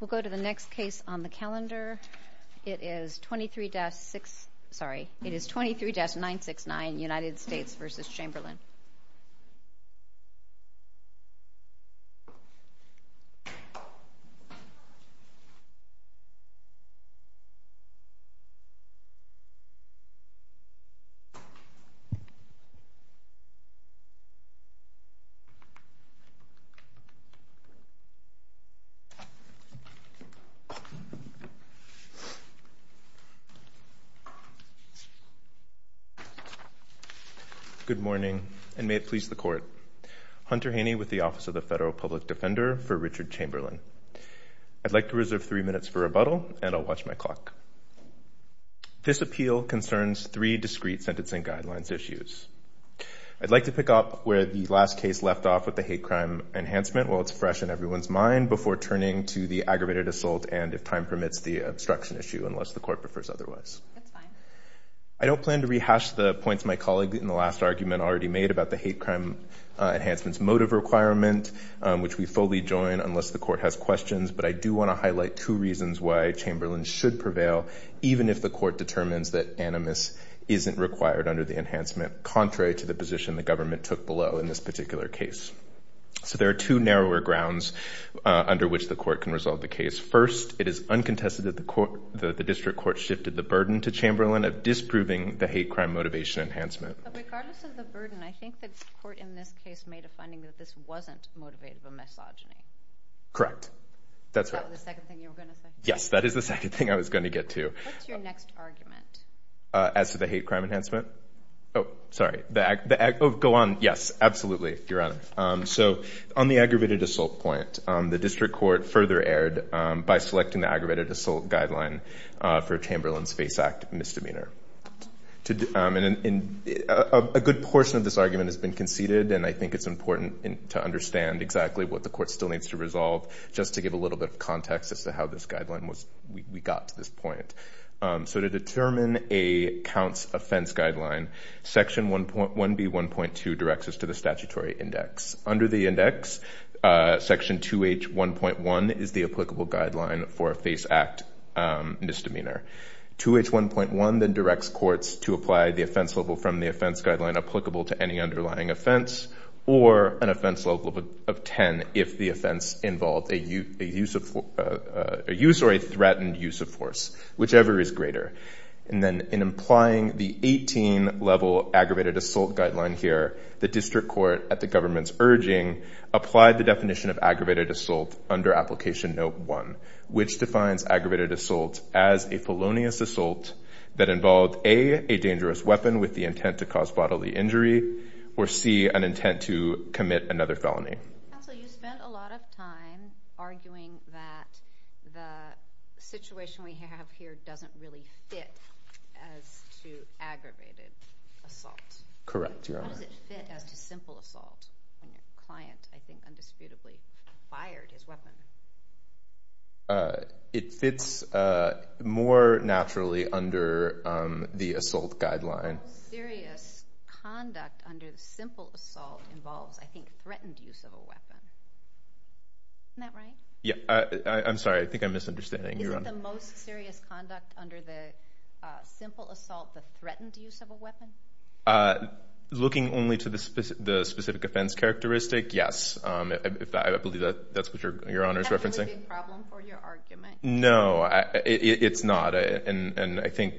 We'll go to the next case on the calendar. It is 23-969 United States v. Chamberlin. Good morning and may it please the Court. Hunter Haney with the Office of the Federal Public Defender for Richard Chamberlin. I'd like to reserve three minutes for rebuttal and I'll watch my clock. This appeal concerns three discrete sentencing guidelines issues. I'd like to pick up where the last case left off with the hate crime enhancement while it's fresh in everyone's mind before turning to the aggravated assault and, if time permits, the obstruction issue unless the Court prefers otherwise. I don't plan to rehash the points my colleague in the last argument already made about the hate crime enhancement's motive requirement, which we fully join unless the Court has questions, but I do want to highlight two reasons why Chamberlin should prevail even if the Court determines that animus isn't required under the enhancement contrary to the position the government took below in this particular case. So there are two narrower grounds under which the Court can resolve the case. First, it is uncontested that the District Court shifted the burden to Chamberlin of disproving the hate crime motivation enhancement. But regardless of the burden, I think that the Court in this case made a finding that this wasn't motivated by misogyny. Correct. That's right. Is that the second thing you were going to say? Yes, that is the second thing I was going to get to. What's your next argument? As to the hate crime enhancement? Oh, sorry. Go on. Yes, absolutely, Your Honor. So on the aggravated assault point, the District Court further erred by selecting the aggravated assault guideline for Chamberlin's FACE Act misdemeanor. A good portion of this argument has been conceded, and I think it's important to understand exactly what the Court still needs to resolve just to give a little bit of context as to how this guideline was – we got to this point. So to determine a counts offense guideline, Section 1B1.2 directs us to the statutory index. Under the index, Section 2H1.1 is the applicable guideline for a FACE Act misdemeanor. 2H1.1 then directs courts to apply the offense level from the offense guideline applicable to any underlying offense or an offense level of 10 if the offense involved a use or a threatened use of force, whichever is greater. And then in implying the 18-level aggravated assault guideline here, the District Court, at the government's urging, applied the definition of aggravated assault under Application Note 1, which defines aggravated assault as a felonious assault that involved A, a dangerous weapon with the intent to cause bodily injury, or C, an intent to commit another felony. Counsel, you spent a lot of time arguing that the situation we have here doesn't really fit as to aggravated assault. Correct, Your Honor. How does it fit as to simple assault? A client, I think, undisputably fired his weapon. It fits more naturally under the assault guideline. The most serious conduct under the simple assault involves, I think, threatened use of a weapon. Isn't that right? I'm sorry. I think I'm misunderstanding, Your Honor. Isn't the most serious conduct under the simple assault the threatened use of a weapon? Looking only to the specific offense characteristic, yes. I believe that's what Your Honor is referencing. Is that really a problem for your argument? No, it's not. I think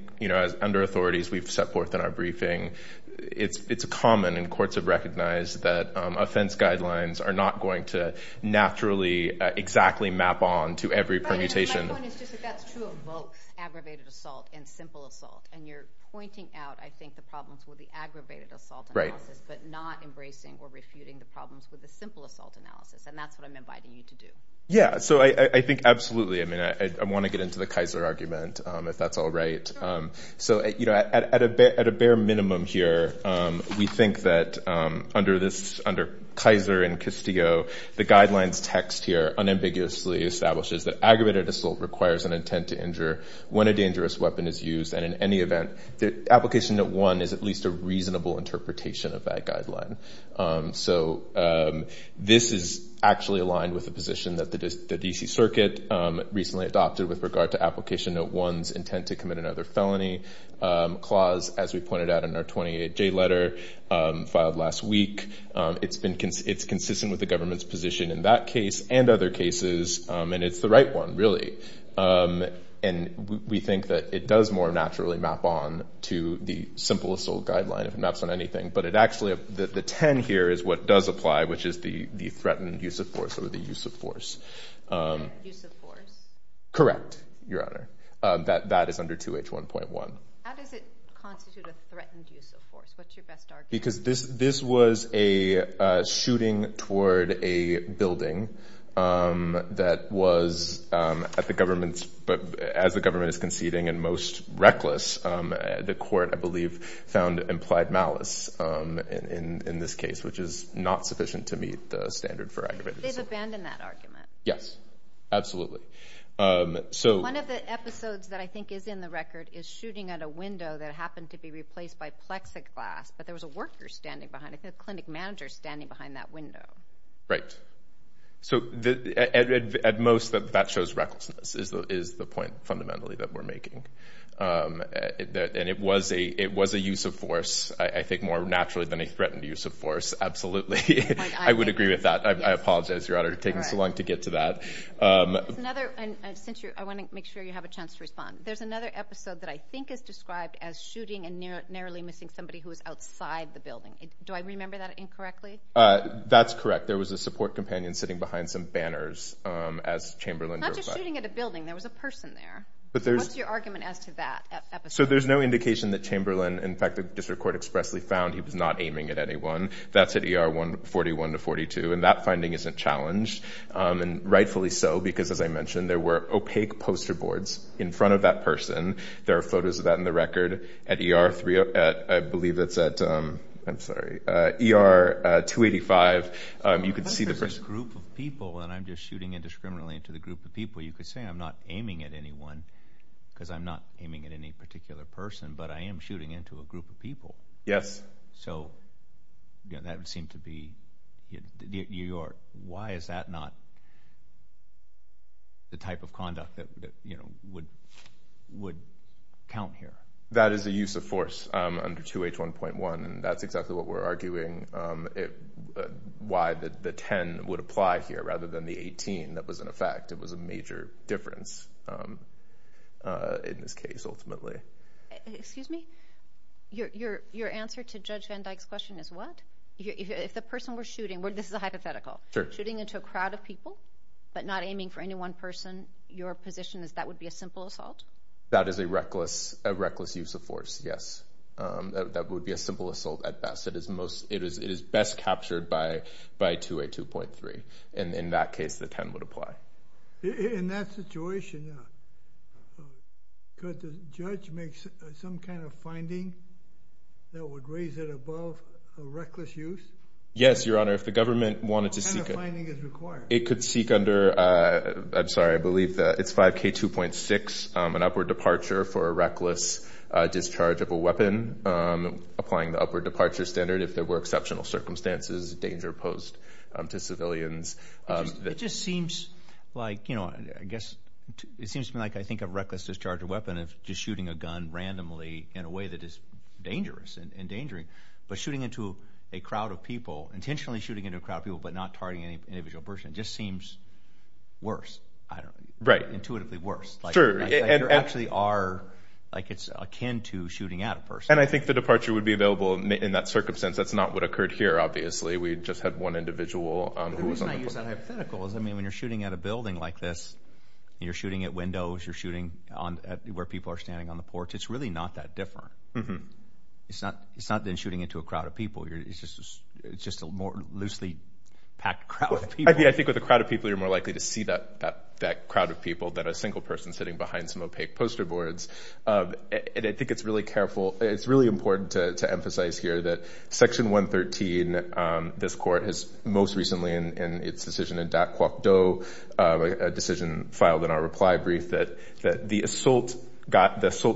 under authorities, we've set forth in our briefing, it's common and courts have recognized that offense guidelines are not going to naturally exactly map on to every permutation. My point is just that that's true of both aggravated assault and simple assault. You're pointing out, I think, the problems with the aggravated assault analysis, but not embracing or refuting the problems with the simple assault analysis. That's what I'm inviting you to do. Yeah, so I think absolutely. I mean, I want to get into the Kaiser argument, if that's all right. So at a bare minimum here, we think that under Kaiser and Castillo, the guidelines text here unambiguously establishes that aggravated assault requires an intent to injure when a dangerous weapon is used. And in any event, the application at one is at least a reasonable interpretation of that guideline. So this is actually aligned with the position that the D.C. Circuit recently adopted with regard to application at one's intent to commit another felony clause, as we pointed out in our 28-J letter filed last week. It's consistent with the government's position in that case and other cases, and it's the right one, really. And we think that it does more naturally map on to the simple assault guideline if it maps on anything. But actually, the 10 here is what does apply, which is the threatened use of force or the use of force. Use of force? Correct, Your Honor. That is under 2H1.1. How does it constitute a threatened use of force? What's your best argument? Because this was a shooting toward a building that was at the government's, as the government is conceding and most reckless, the court, I believe, found implied malice in this case, which is not sufficient to meet the standard for aggravated assault. They've abandoned that argument. Yes, absolutely. One of the episodes that I think is in the record is shooting at a window that happened to be replaced by plexiglass, but there was a worker standing behind it, a clinic manager standing behind that window. Right. At most, that shows recklessness is the point, fundamentally, that we're making. And it was a use of force, I think, more naturally than a threatened use of force, absolutely. I would agree with that. I apologize, Your Honor, for taking so long to get to that. I want to make sure you have a chance to respond. There's another episode that I think is described as shooting and narrowly missing somebody who was outside the building. Do I remember that incorrectly? That's correct. There was a support companion sitting behind some banners as Chamberlain drove by. Not just shooting at a building. There was a person there. What's your argument as to that episode? So there's no indication that Chamberlain, in fact, the district court expressly found he was not aiming at anyone. That's at ER 141 to 42. And that finding isn't challenged. And rightfully so, because, as I mentioned, there were opaque poster boards in front of that person. There are photos of that in the record. At ER 3, I believe it's at, I'm sorry, ER 285, you can see the person. I thought there was a group of people, and I'm just shooting indiscriminately into the group of people. You could say I'm not aiming at anyone because I'm not aiming at any particular person. But I am shooting into a group of people. Yes. So that would seem to be New York. Why is that not the type of conduct that would count here? That is a use of force under 2H1.1. That's exactly what we're arguing, why the 10 would apply here rather than the 18 that was in effect. It was a major difference in this case, ultimately. Excuse me? Your answer to Judge Van Dyke's question is what? If the person we're shooting, this is a hypothetical, shooting into a crowd of people, but not aiming for any one person, your position is that would be a simple assault? That is a reckless use of force, yes. That would be a simple assault at best. It is best captured by 2A2.3. And in that case, the 10 would apply. In that situation, yeah. Could the judge make some kind of finding that would raise it above a reckless use? Yes, Your Honor. What kind of finding is required? It could seek under, I'm sorry, I believe it's 5K2.6, an upward departure for a reckless discharge of a weapon, applying the upward departure standard if there were exceptional circumstances, danger posed to civilians. It just seems like, you know, I guess it seems to me like I think a reckless discharge of a weapon is just shooting a gun randomly in a way that is dangerous and endangering. But shooting into a crowd of people, intentionally shooting into a crowd of people but not targeting an individual person just seems worse. Right. Intuitively worse. Sure. Like you actually are, like it's akin to shooting at a person. And I think the departure would be available in that circumstance. That's not what occurred here, obviously. We just had one individual. The reason I use that hypothetical is, I mean, when you're shooting at a building like this and you're shooting at windows, you're shooting where people are standing on the porch, it's really not that different. It's not then shooting into a crowd of people. It's just a more loosely packed crowd of people. I think with a crowd of people you're more likely to see that crowd of people than a single person sitting behind some opaque poster boards. And I think it's really careful. It's really important to emphasize here that Section 113, this court has most recently in its decision in Dat Kwok Do, a decision filed in our reply brief, that the assault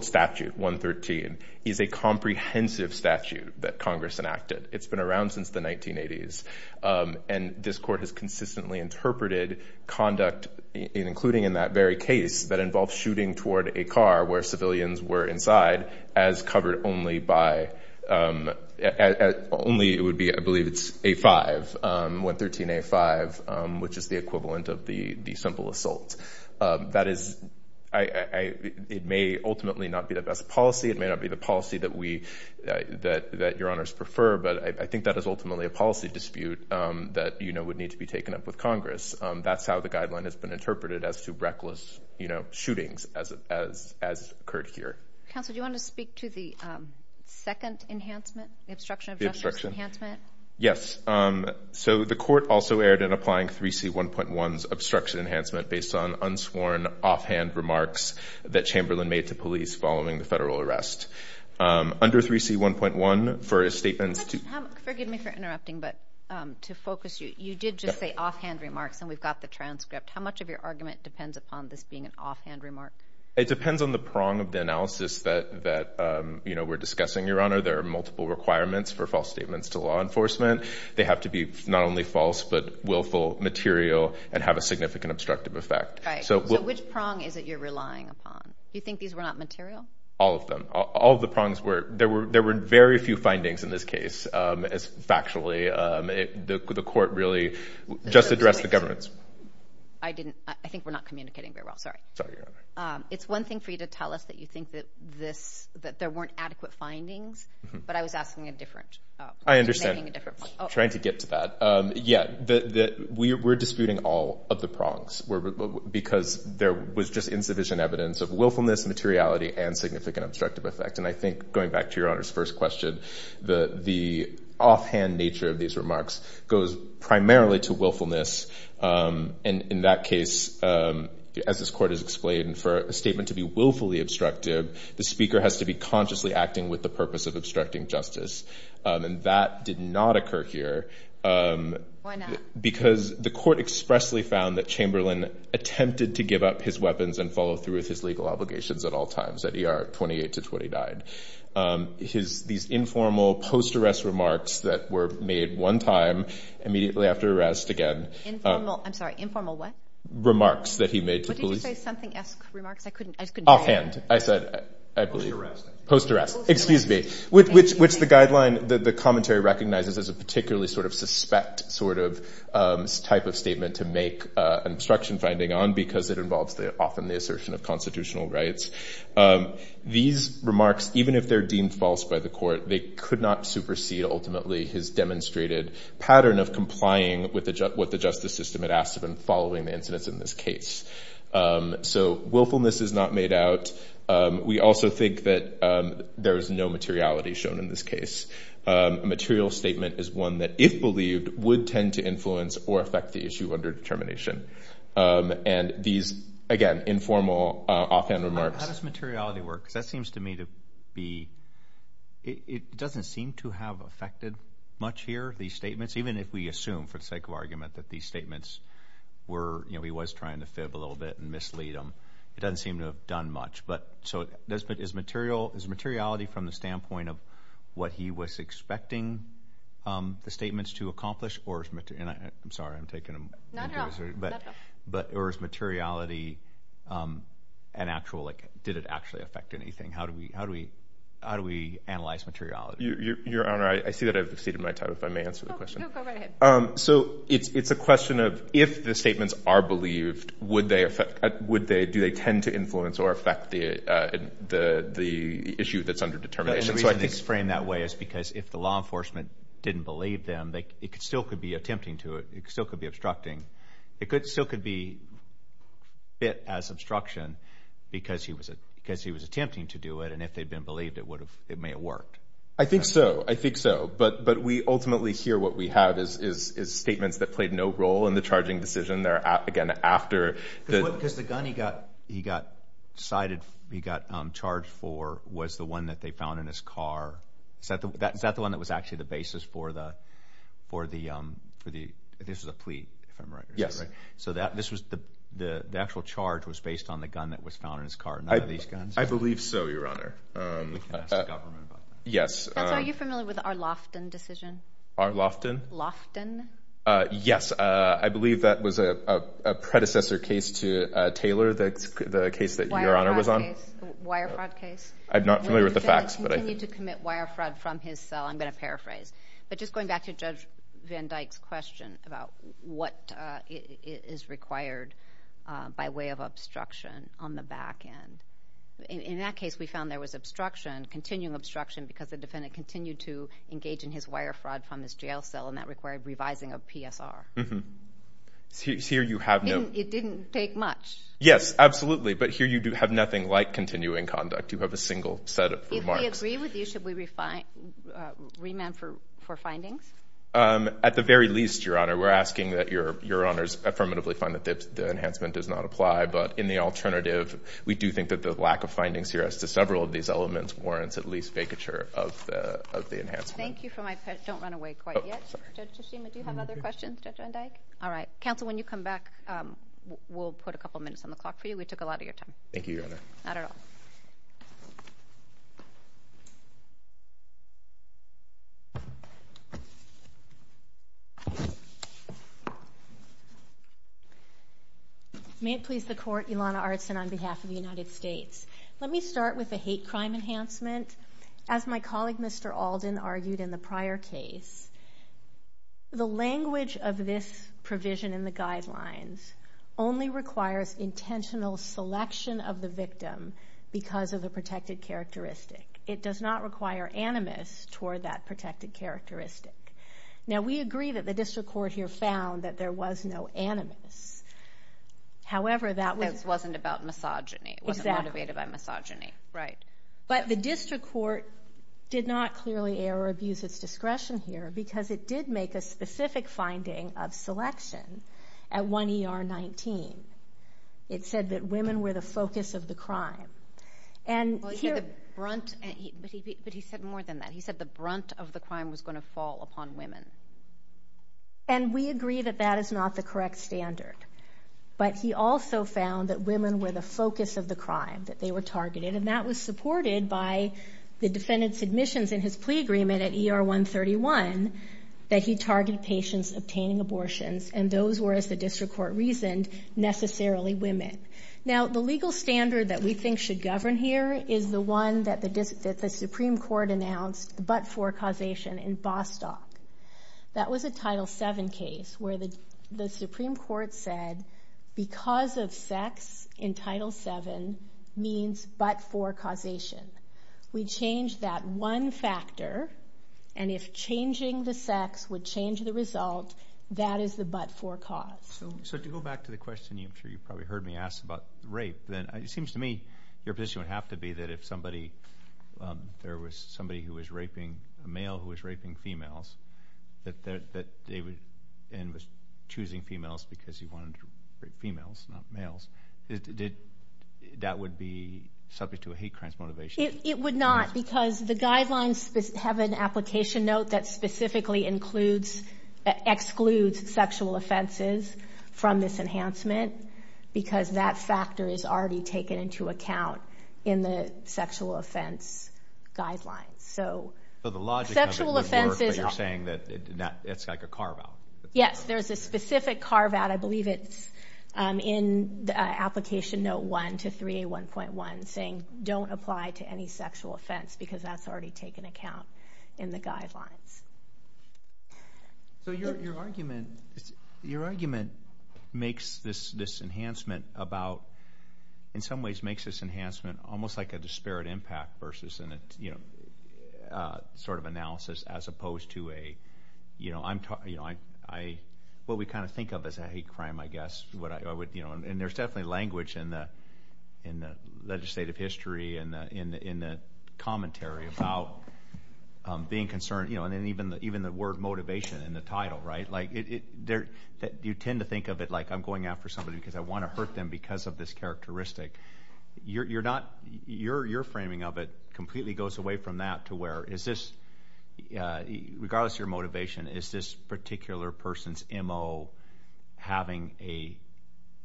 statute, 113, is a comprehensive statute that Congress enacted. It's been around since the 1980s. And this court has consistently interpreted conduct, including in that very case, that involves shooting toward a car where civilians were inside, as covered only by, only it would be, I believe it's A5, 113A5, which is the equivalent of the simple assault. That is, it may ultimately not be the best policy. It may not be the policy that we, that your honors prefer, but I think that is ultimately a policy dispute that, you know, would need to be taken up with Congress. That's how the guideline has been interpreted as to reckless, you know, shootings as occurred here. Counsel, do you want to speak to the second enhancement, the obstruction of justice enhancement? Yes. So the court also erred in applying 3C1.1's obstruction enhancement based on unsworn offhand remarks that Chamberlain made to police following the federal arrest. Under 3C1.1, for a statement to... Forgive me for interrupting, but to focus you, you did just say offhand remarks, and we've got the transcript. How much of your argument depends upon this being an offhand remark? It depends on the prong of the analysis that, you know, we're discussing, Your Honor. There are multiple requirements for false statements to law enforcement. They have to be not only false but willful, material, and have a significant obstructive effect. Right. So which prong is it you're relying upon? Do you think these were not material? All of them. All of the prongs were. There were very few findings in this case, factually. The court really just addressed the governance. I didn't. I think we're not communicating very well. Sorry. Sorry, Your Honor. It's one thing for you to tell us that you think that there weren't adequate findings, but I was asking a different... I understand. Making a different point. Trying to get to that. Yeah, we're disputing all of the prongs because there was just insufficient evidence of willfulness, materiality, and significant obstructive effect. And I think, going back to Your Honor's first question, the offhand nature of these remarks goes primarily to willfulness. And in that case, as this court has explained, for a statement to be willfully obstructive, the speaker has to be consciously acting with the purpose of obstructing justice. And that did not occur here. Why not? Because the court expressly found that Chamberlain attempted to give up his weapons and follow through with his legal obligations at all times. At ER, 28 to 20 died. These informal post-arrest remarks that were made one time immediately after arrest again... Informal? I'm sorry. Informal what? Remarks that he made to police. What did you say? Something-esque remarks? I just couldn't hear you. Offhand. I said... Post-arrest. Post-arrest. Excuse me. Which the commentary recognizes as a particularly suspect type of statement to make an obstruction finding on because it involves often the assertion of constitutional rights. These remarks, even if they're deemed false by the court, they could not supersede, ultimately, his demonstrated pattern of complying with what the justice system had asked of him following the incidents in this case. So willfulness is not made out. We also think that there is no materiality shown in this case. A material statement is one that, if believed, would tend to influence or affect the issue under determination. And these, again, informal offhand remarks... How does materiality work? Because that seems to me to be... It doesn't seem to have affected much here, these statements, even if we assume, for the sake of argument, that these statements were, you know, he was trying to fib a little bit and mislead them. It doesn't seem to have done much. So is materiality from the standpoint of what he was expecting the statements to accomplish or... I'm sorry. I'm taking a... Not at all. Or is materiality an actual... Like, did it actually affect anything? How do we analyze materiality? Your Honor, I see that I've exceeded my time, if I may answer the question. No, go right ahead. So it's a question of, if the statements are believed, would they affect... Do they tend to influence or affect the issue that's under determination? The reason it's framed that way is because, if the law enforcement didn't believe them, it still could be attempting to. It still could be obstructing. It still could be fit as obstruction because he was attempting to do it, and if they'd been believed, it may have worked. I think so. I think so. But we ultimately hear what we have is statements that played no role in the charging decision. They're, again, after... Because the gun he got cited, he got charged for, was the one that they found in his car. Is that the one that was actually the basis for the... This was a plea, if I'm right. Yes. So the actual charge was based on the gun that was found in his car. None of these guns? I believe so, Your Honor. We can ask the government about that. Yes. Are you familiar with the Arlofton decision? Arlofton? Lofton? Yes. I believe that was a predecessor case to Taylor, the case that Your Honor was on. Wire fraud case. I'm not familiar with the facts. He continued to commit wire fraud from his cell. I'm going to paraphrase. But just going back to Judge Van Dyke's question about what is required by way of obstruction on the back end. In that case, we found there was obstruction, continuing obstruction, because the defendant continued to engage in his wire fraud from his jail cell, and that required revising of PSR. Here you have no... It didn't take much. Yes, absolutely. But here you have nothing like continuing conduct. You have a single set of remarks. If we agree with you, should we remand for findings? At the very least, Your Honor, we're asking that Your Honors affirmatively find that the enhancement does not apply, but in the alternative, we do think that the lack of findings here as to several of these elements warrants at least vacature of the enhancement. Thank you for my... Don't run away quite yet. Judge Toshima, do you have other questions, Judge Van Dyke? All right. Counsel, when you come back, we'll put a couple minutes on the clock for you. We took a lot of your time. Thank you, Your Honor. Not at all. May it please the Court, Ilana Artson on behalf of the United States. Let me start with the hate crime enhancement. As my colleague, Mr. Alden, argued in the prior case, the language of this provision in the guidelines only requires intentional selection of the victim because of the protected characteristic. It does not require animus toward that protected characteristic. Now, we agree that the district court here found that there was no animus. However, that was... It wasn't about misogyny. Exactly. It wasn't motivated by misogyny. Right. But the district court did not clearly err or abuse its discretion here because it did make a specific finding of selection at 1 ER 19. It said that women were the focus of the crime. And here... But he said more than that. He said the brunt of the crime was going to fall upon women. And we agree that that is not the correct standard. But he also found that women were the focus of the crime, that they were targeted, and that was supported by the defendant's admissions in his plea agreement at ER 131 that he targeted patients obtaining abortions, and those were, as the district court reasoned, necessarily women. Now, the legal standard that we think should govern here is the one that the Supreme Court announced, the but-for causation in Bostock. That was a Title VII case where the Supreme Court said, because of sex in Title VII means but-for causation. We changed that one factor, and if changing the sex would change the result, that is the but-for cause. So to go back to the question I'm sure you probably heard me ask about rape, then it seems to me your position would have to be that if somebody, there was somebody who was raping a male who was raping females and was choosing females because he wanted to rape females, not males, that would be subject to a hate crimes motivation? It would not because the guidelines have an application note that specifically excludes sexual offenses from this enhancement because that factor is already taken into account in the sexual offense guidelines. So the logic of it is you're saying that it's like a carve-out. Yes, there's a specific carve-out. I believe it's in Application Note 1 to 3A1.1 saying, don't apply to any sexual offense because that's already taken into account in the guidelines. So your argument makes this enhancement about, in some ways, makes this enhancement almost like a disparate impact versus sort of analysis as opposed to a, what we kind of think of as a hate crime, I guess. And there's definitely language in the legislative history and in the commentary about being concerned. And even the word motivation in the title, right? Like you tend to think of it like I'm going after somebody because I want to hurt them because of this characteristic. Your framing of it completely goes away from that to where is this, regardless of your motivation, is this particular person's MO having a,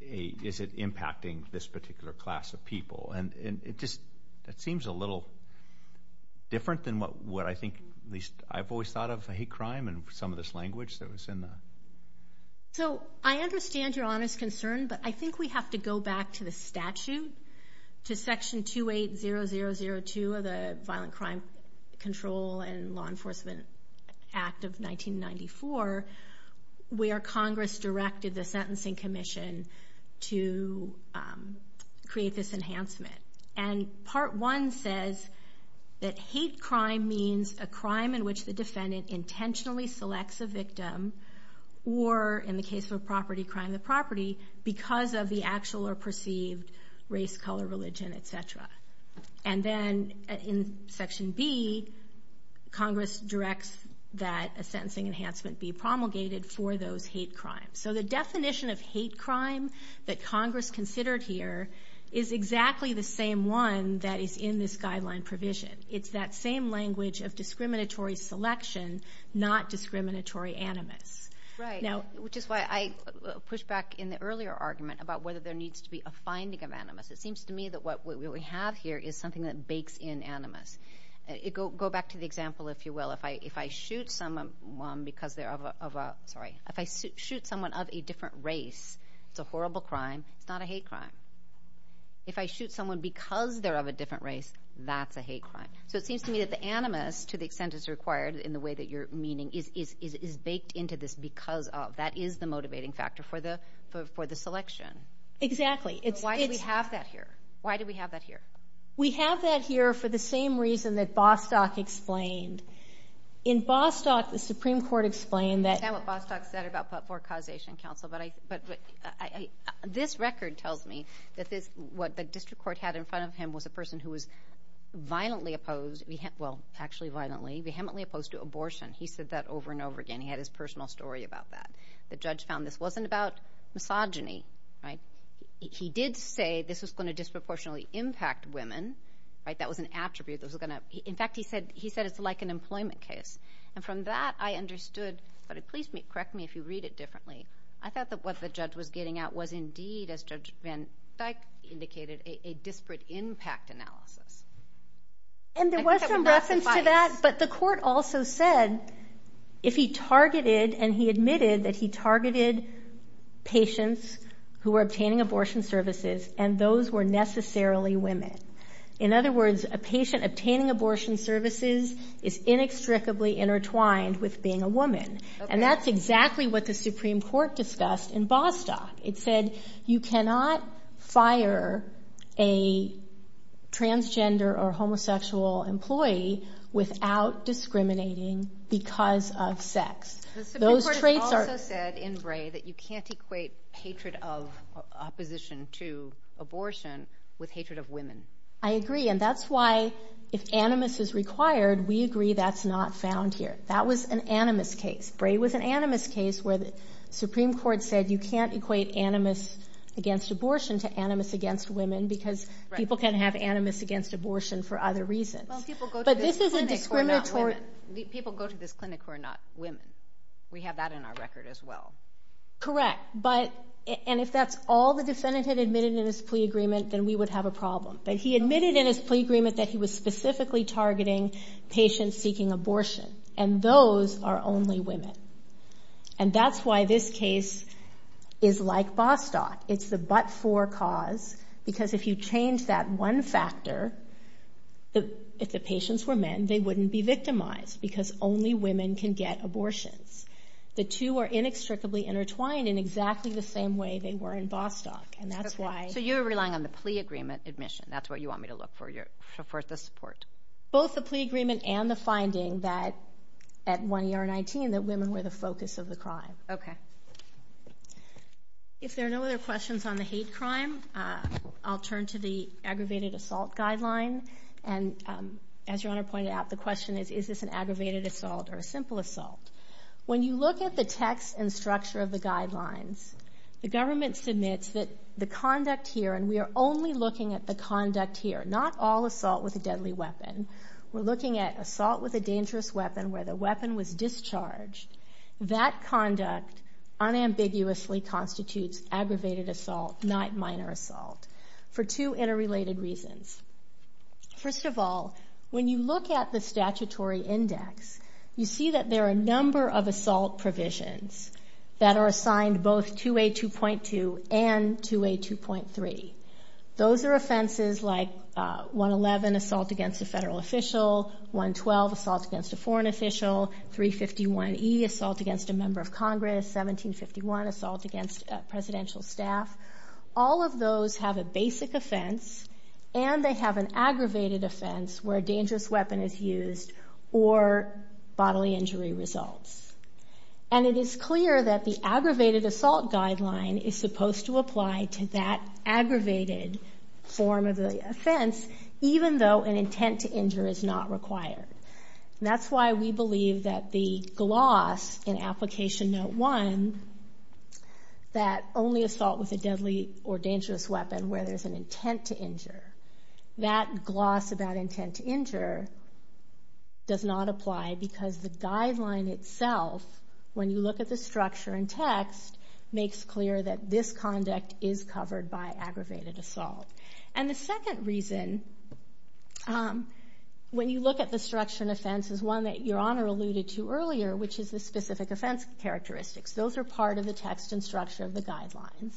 is it impacting this particular class of people? And it just seems a little different than what I think at least I've always thought of a hate crime in some of this language that was in the. So I understand your honest concern, but I think we have to go back to the statute, to Section 280002 of the Law Enforcement Act of 1994, where Congress directed the Sentencing Commission to create this enhancement. And Part 1 says that hate crime means a crime in which the defendant intentionally selects a victim or, in the case of a property crime, the property because of the actual or perceived race, color, religion, etc. And then in Section B, Congress directs that a sentencing enhancement be promulgated for those hate crimes. So the definition of hate crime that Congress considered here is exactly the same one that is in this guideline provision. It's that same language of discriminatory selection, not discriminatory animus. Right, which is why I pushed back in the earlier argument about whether there needs to be a finding of animus. It seems to me that what we have here is something that bakes in animus. Go back to the example, if you will. If I shoot someone of a different race, it's a horrible crime. It's not a hate crime. If I shoot someone because they're of a different race, that's a hate crime. So it seems to me that the animus, to the extent it's required in the way that you're meaning, is baked into this because of. That is the motivating factor for the selection. Exactly. Why do we have that here? Why do we have that here? We have that here for the same reason that Bostock explained. In Bostock, the Supreme Court explained that. I understand what Bostock said about forecausation counsel, but this record tells me that what the district court had in front of him was a person who was violently opposed, well, actually violently, vehemently opposed to abortion. He said that over and over again. He had his personal story about that. The judge found this wasn't about misogyny. He did say this was going to disproportionately impact women. That was an attribute. In fact, he said it's like an employment case. From that, I understood, but please correct me if you read it differently. I thought that what the judge was getting at was indeed, as Judge Van Dyck indicated, a disparate impact analysis. There was some reference to that, but the court also said if he targeted and he admitted that he targeted patients who were obtaining abortion services and those were necessarily women. In other words, a patient obtaining abortion services is inextricably intertwined with being a woman. That's exactly what the Supreme Court discussed in Bostock. It said you cannot fire a transgender or homosexual employee without discriminating because of sex. The Supreme Court also said in Bray that you can't equate hatred of opposition to abortion with hatred of women. I agree, and that's why if animus is required, we agree that's not found here. That was an animus case. Bray was an animus case where the Supreme Court said you can't equate animus against abortion to animus against women because people can have animus against abortion for other reasons. People go to this clinic who are not women. We have that in our record as well. Correct, and if that's all the defendant had admitted in his plea agreement, then we would have a problem. But he admitted in his plea agreement that he was specifically targeting patients seeking abortion, and those are only women. That's why this case is like Bostock. It's the but-for cause because if you change that one factor, if the patients were men, they wouldn't be victimized because only women can get abortions. The two are inextricably intertwined in exactly the same way they were in Bostock. So you're relying on the plea agreement admission. That's what you want me to look for, for the support. Both the plea agreement and the finding that at 1ER19 that women were the focus of the crime. Okay. If there are no other questions on the hate crime, I'll turn to the aggravated assault guideline. As Your Honor pointed out, the question is, is this an aggravated assault or a simple assault? When you look at the text and structure of the guidelines, the government submits that the conduct here, and we are only looking at the conduct here, not all assault with a deadly weapon. We're looking at assault with a dangerous weapon where the weapon was discharged. That conduct unambiguously constitutes aggravated assault, not minor assault, for two interrelated reasons. First of all, when you look at the statutory index, you see that there are a number of assault provisions that are assigned both 2A2.2 and 2A2.3. Those are offenses like 111, assault against a federal official, 112, assault against a foreign official, 351E, assault against a member of Congress, 1751, assault against presidential staff. All of those have a basic offense, and they have an aggravated offense where a dangerous weapon is used or bodily injury results. And it is clear that the aggravated assault guideline is supposed to apply to that aggravated form of the offense, even though an intent to injure is not required. That's why we believe that the gloss in Application Note 1 that only assault with a deadly or dangerous weapon where there's an intent to injure, that gloss about intent to injure does not apply because the guideline itself, when you look at the structure and text, makes clear that this conduct is covered by aggravated assault. And the second reason, when you look at the structure and offense, is one that Your Honor alluded to earlier, which is the specific offense characteristics. Those are part of the text and structure of the guidelines.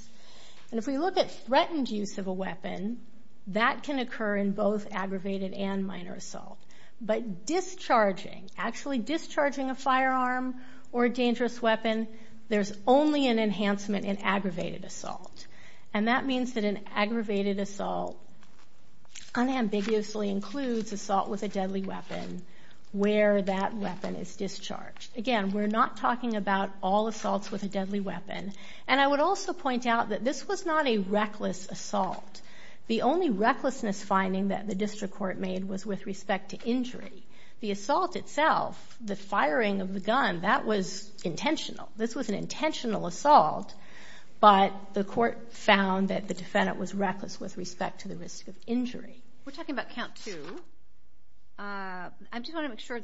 And if we look at threatened use of a weapon, that can occur in both aggravated and minor assault. But discharging, actually discharging a firearm or a dangerous weapon, there's only an enhancement in aggravated assault. And that means that an aggravated assault unambiguously includes assault with a deadly weapon where that weapon is discharged. Again, we're not talking about all assaults with a deadly weapon. And I would also point out that this was not a reckless assault. The only recklessness finding that the district court made was with respect to injury. The assault itself, the firing of the gun, that was intentional. This was an intentional assault, but the court found that the defendant was reckless with respect to the risk of injury. We're talking about count two. I just want to make sure,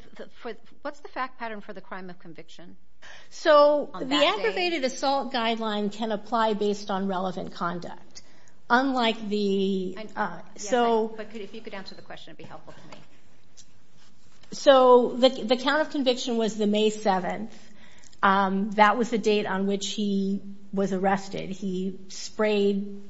what's the fact pattern for the crime of conviction on that date? So the aggravated assault guideline can apply based on relevant conduct. Unlike the... Yes, but if you could answer the question, it would be helpful to me. So the count of conviction was the May 7th. That was the date on which he was arrested. He sprayed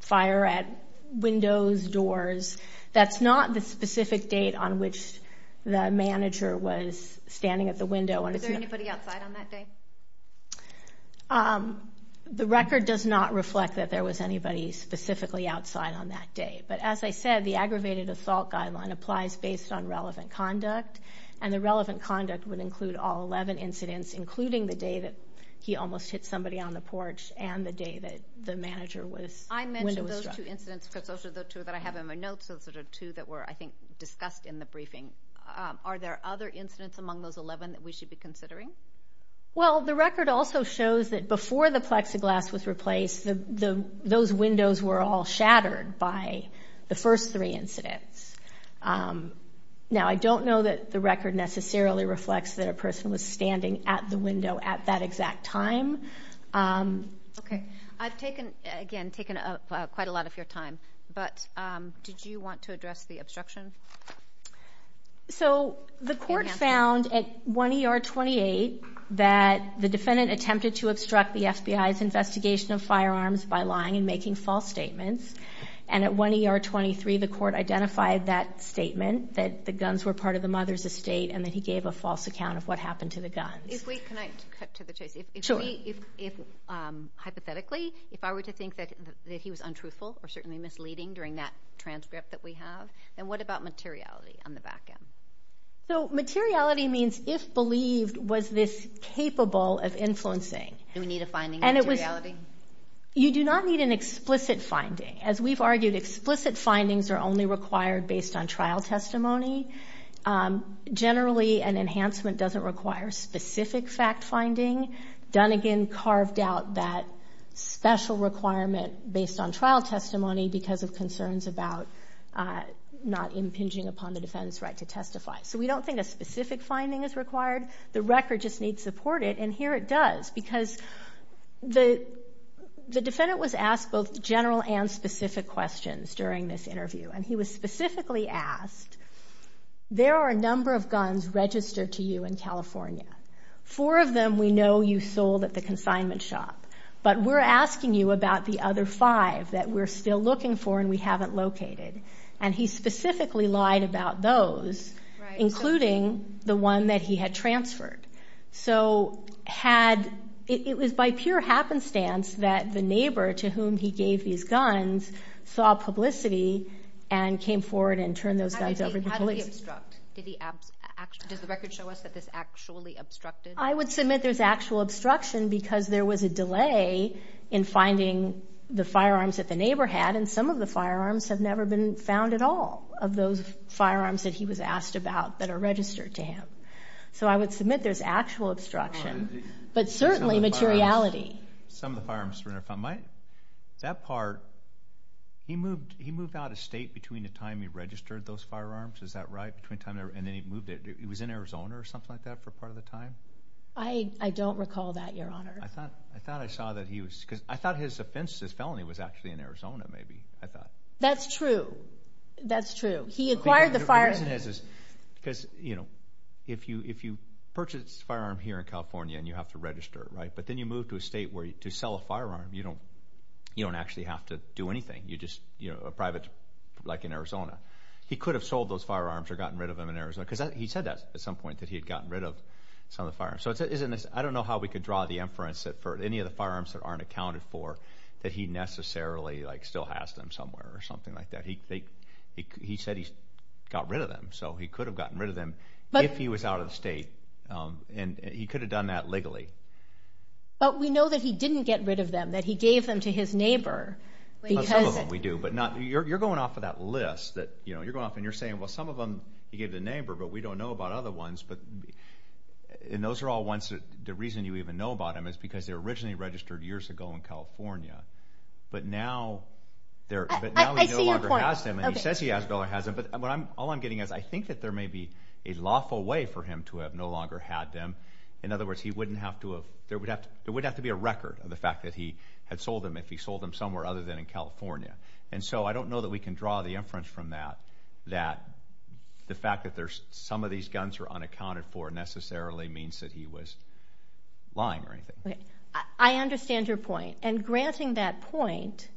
fire at windows, doors. That's not the specific date on which the manager was standing at the window. Was there anybody outside on that day? The record does not reflect that there was anybody specifically outside on that day. But as I said, the aggravated assault guideline applies based on relevant conduct. And the relevant conduct would include all 11 incidents, including the day that he almost hit somebody on the porch and the day that the manager was window struck. I mentioned those two incidents because those are the two that I have in my notes. Those are the two that were, I think, discussed in the briefing. Are there other incidents among those 11 that we should be considering? Well, the record also shows that before the plexiglass was replaced, those windows were all shattered by the first three incidents. Now, I don't know that the record necessarily reflects that a person was standing at the window at that exact time. Okay. I've taken, again, taken quite a lot of your time. But did you want to address the obstruction? So the court found at 1 ER 28 that the defendant attempted to obstruct the FBI's investigation of firearms by lying and making false statements. And at 1 ER 23, the court identified that statement, that the guns were part of the mother's estate, and that he gave a false account of what happened to the guns. Can I cut to the chase? Sure. Hypothetically, if I were to think that he was untruthful or certainly misleading during that transcript that we have, then what about materiality on the back end? So materiality means if believed was this capable of influencing. Do we need a finding of materiality? You do not need an explicit finding. As we've argued, explicit findings are only required based on trial testimony. Generally, an enhancement doesn't require specific fact finding. Dunnegan carved out that special requirement based on trial testimony because of concerns about not impinging upon the defendant's right to testify. So we don't think a specific finding is required. The record just needs support. And here it does because the defendant was asked both general and specific questions during this interview. And he was specifically asked, there are a number of guns registered to you in California. Four of them we know you sold at the consignment shop, but we're asking you about the other five that we're still looking for and we haven't located. And he specifically lied about those, including the one that he had transferred. So it was by pure happenstance that the neighbor to whom he gave these guns saw publicity and came forward and turned those guys over to the police. How did he obstruct? Does the record show us that this actually obstructed? I would submit there's actual obstruction because there was a delay in finding the firearms that the neighbor had, and some of the firearms have never been found at all, of those firearms that he was asked about that are registered to him. So I would submit there's actual obstruction, but certainly materiality. Some of the firearms were never found. That part, he moved out of state between the time he registered those firearms. Is that right? And then he moved it. He was in Arizona or something like that for part of the time? I don't recall that, Your Honor. I thought I saw that he was. I thought his offense, his felony, was actually in Arizona maybe. That's true. That's true. He acquired the firearms. Because, you know, if you purchase a firearm here in California and you have to register it, right, but then you move to a state where to sell a firearm, you don't actually have to do anything. You're just a private, like in Arizona. He could have sold those firearms or gotten rid of them in Arizona because he said that at some point that he had gotten rid of some of the firearms. So I don't know how we could draw the inference that for any of the firearms that aren't accounted for that he necessarily still has them somewhere or something like that. He said he got rid of them. So he could have gotten rid of them if he was out of the state. And he could have done that legally. But we know that he didn't get rid of them, that he gave them to his neighbor. Well, some of them we do. But you're going off of that list. You're going off and you're saying, well, some of them he gave to a neighbor, but we don't know about other ones. And those are all ones that the reason you even know about them is because they were originally registered years ago in California. But now he no longer has them. I see your point. He says he no longer has them. But all I'm getting at is I think that there may be a lawful way for him to have no longer had them. In other words, there would have to be a record of the fact that he had sold them if he sold them somewhere other than in California. And so I don't know that we can draw the inference from that that the fact that some of these guns are unaccounted for necessarily means that he was lying or anything. I understand your point. And granting that point,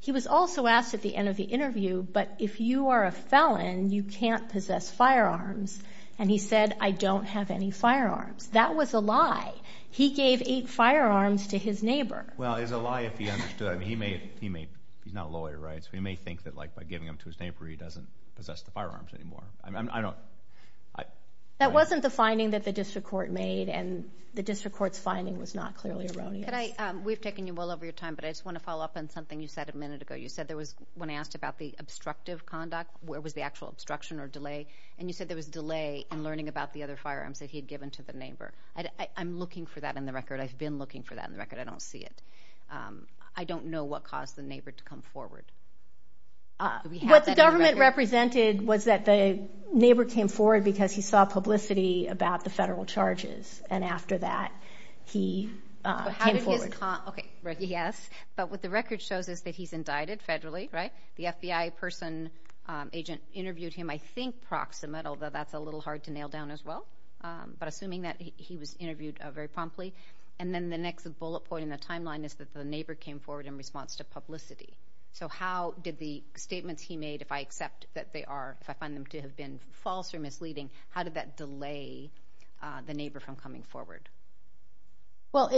he was also asked at the end of the interview, but if you are a felon, you can't possess firearms. And he said, I don't have any firearms. That was a lie. He gave eight firearms to his neighbor. Well, it's a lie if he understood. He's not a lawyer, right? So he may think that, like, by giving them to his neighbor, he doesn't possess the firearms anymore. That wasn't the finding that the district court made, and the district court's finding was not clearly erroneous. We've taken you well over your time, but I just want to follow up on something you said a minute ago. You said there was, when I asked about the obstructive conduct, where was the actual obstruction or delay, and you said there was delay in learning about the other firearms that he had given to the neighbor. I'm looking for that in the record. I've been looking for that in the record. I don't see it. I don't know what caused the neighbor to come forward. What the government represented was that the neighbor came forward because he saw publicity about the federal charges, and after that he came forward. Okay, yes, but what the record shows is that he's indicted federally, right? The FBI agent interviewed him, I think, proximate, although that's a little hard to nail down as well, but assuming that he was interviewed very promptly. And then the next bullet point in the timeline is that the neighbor came forward in response to publicity. So how did the statements he made, if I accept that they are, if I find them to have been false or misleading, how did that delay the neighbor from coming forward? Well,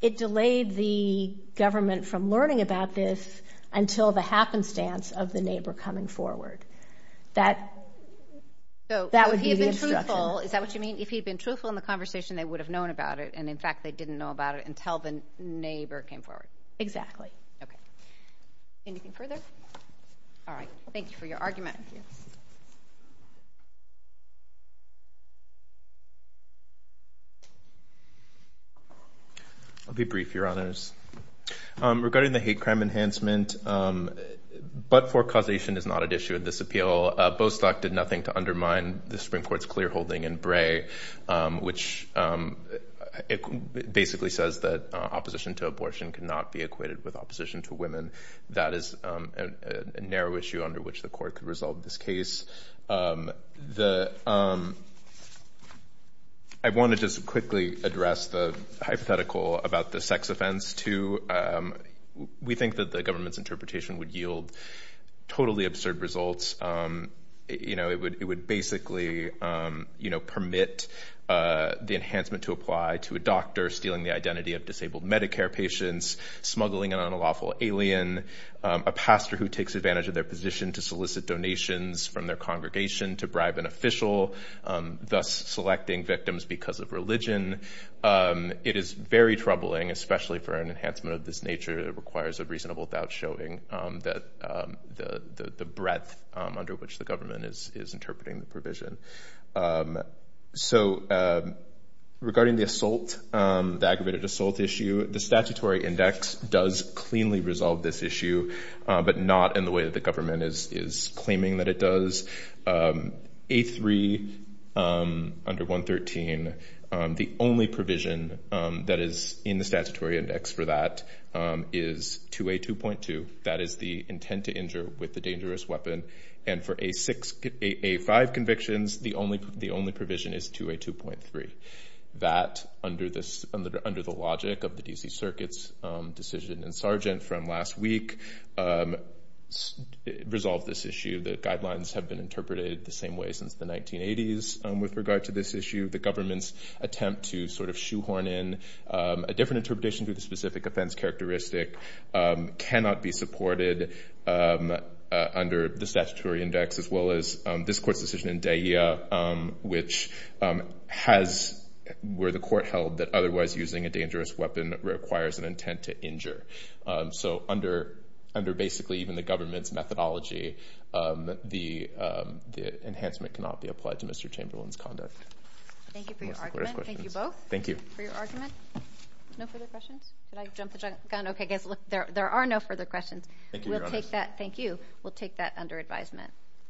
it delayed the government from learning about this until the happenstance of the neighbor coming forward. That would be the instruction. So if he had been truthful, is that what you mean? If he had been truthful in the conversation, they would have known about it, and, in fact, they didn't know about it until the neighbor came forward. Exactly. Okay. Anything further? All right, thank you for your argument. Thank you. I'll be brief, Your Honors. Regarding the hate crime enhancement, but-for causation is not an issue in this appeal. Bostock did nothing to undermine the Supreme Court's clear holding in Bray, which basically says that opposition to abortion cannot be equated with opposition to women. That is a narrow issue under which the Court could resolve this case. The-I want to just quickly address the hypothetical about the sex offense, too. We think that the government's interpretation would yield totally absurd results. You know, it would basically, you know, permit the enhancement to apply to a doctor stealing the identity of disabled Medicare patients, smuggling an unlawful alien, a pastor who takes advantage of their position to solicit donations from their congregation to bribe an official, thus selecting victims because of religion. It is very troubling, especially for an enhancement of this nature. It requires a reasonable doubt showing that-the breadth under which the government is interpreting the provision. So regarding the assault, the aggravated assault issue, the statutory index does cleanly resolve this issue, but not in the way that the government is claiming that it does. A3, under 113, the only provision that is in the statutory index for that is 2A2.2. That is the intent to injure with a dangerous weapon. And for A6-A5 convictions, the only provision is 2A2.3. That, under the logic of the D.C. Circuit's decision in Sargent from last week, resolves this issue. The guidelines have been interpreted the same way since the 1980s with regard to this issue. The government's attempt to sort of shoehorn in a different interpretation to the specific offense characteristic cannot be supported under the statutory index, as well as this court's decision in DAEA, which has-where the court held that otherwise using a dangerous weapon requires an intent to injure. So under basically even the government's methodology, the enhancement cannot be applied to Mr. Chamberlain's conduct. Thank you for your argument. Thank you both. Thank you. For your argument. No further questions? Did I jump the gun? Okay, guys, look, there are no further questions. Thank you, Your Honor. Thank you. We'll take that under advisement.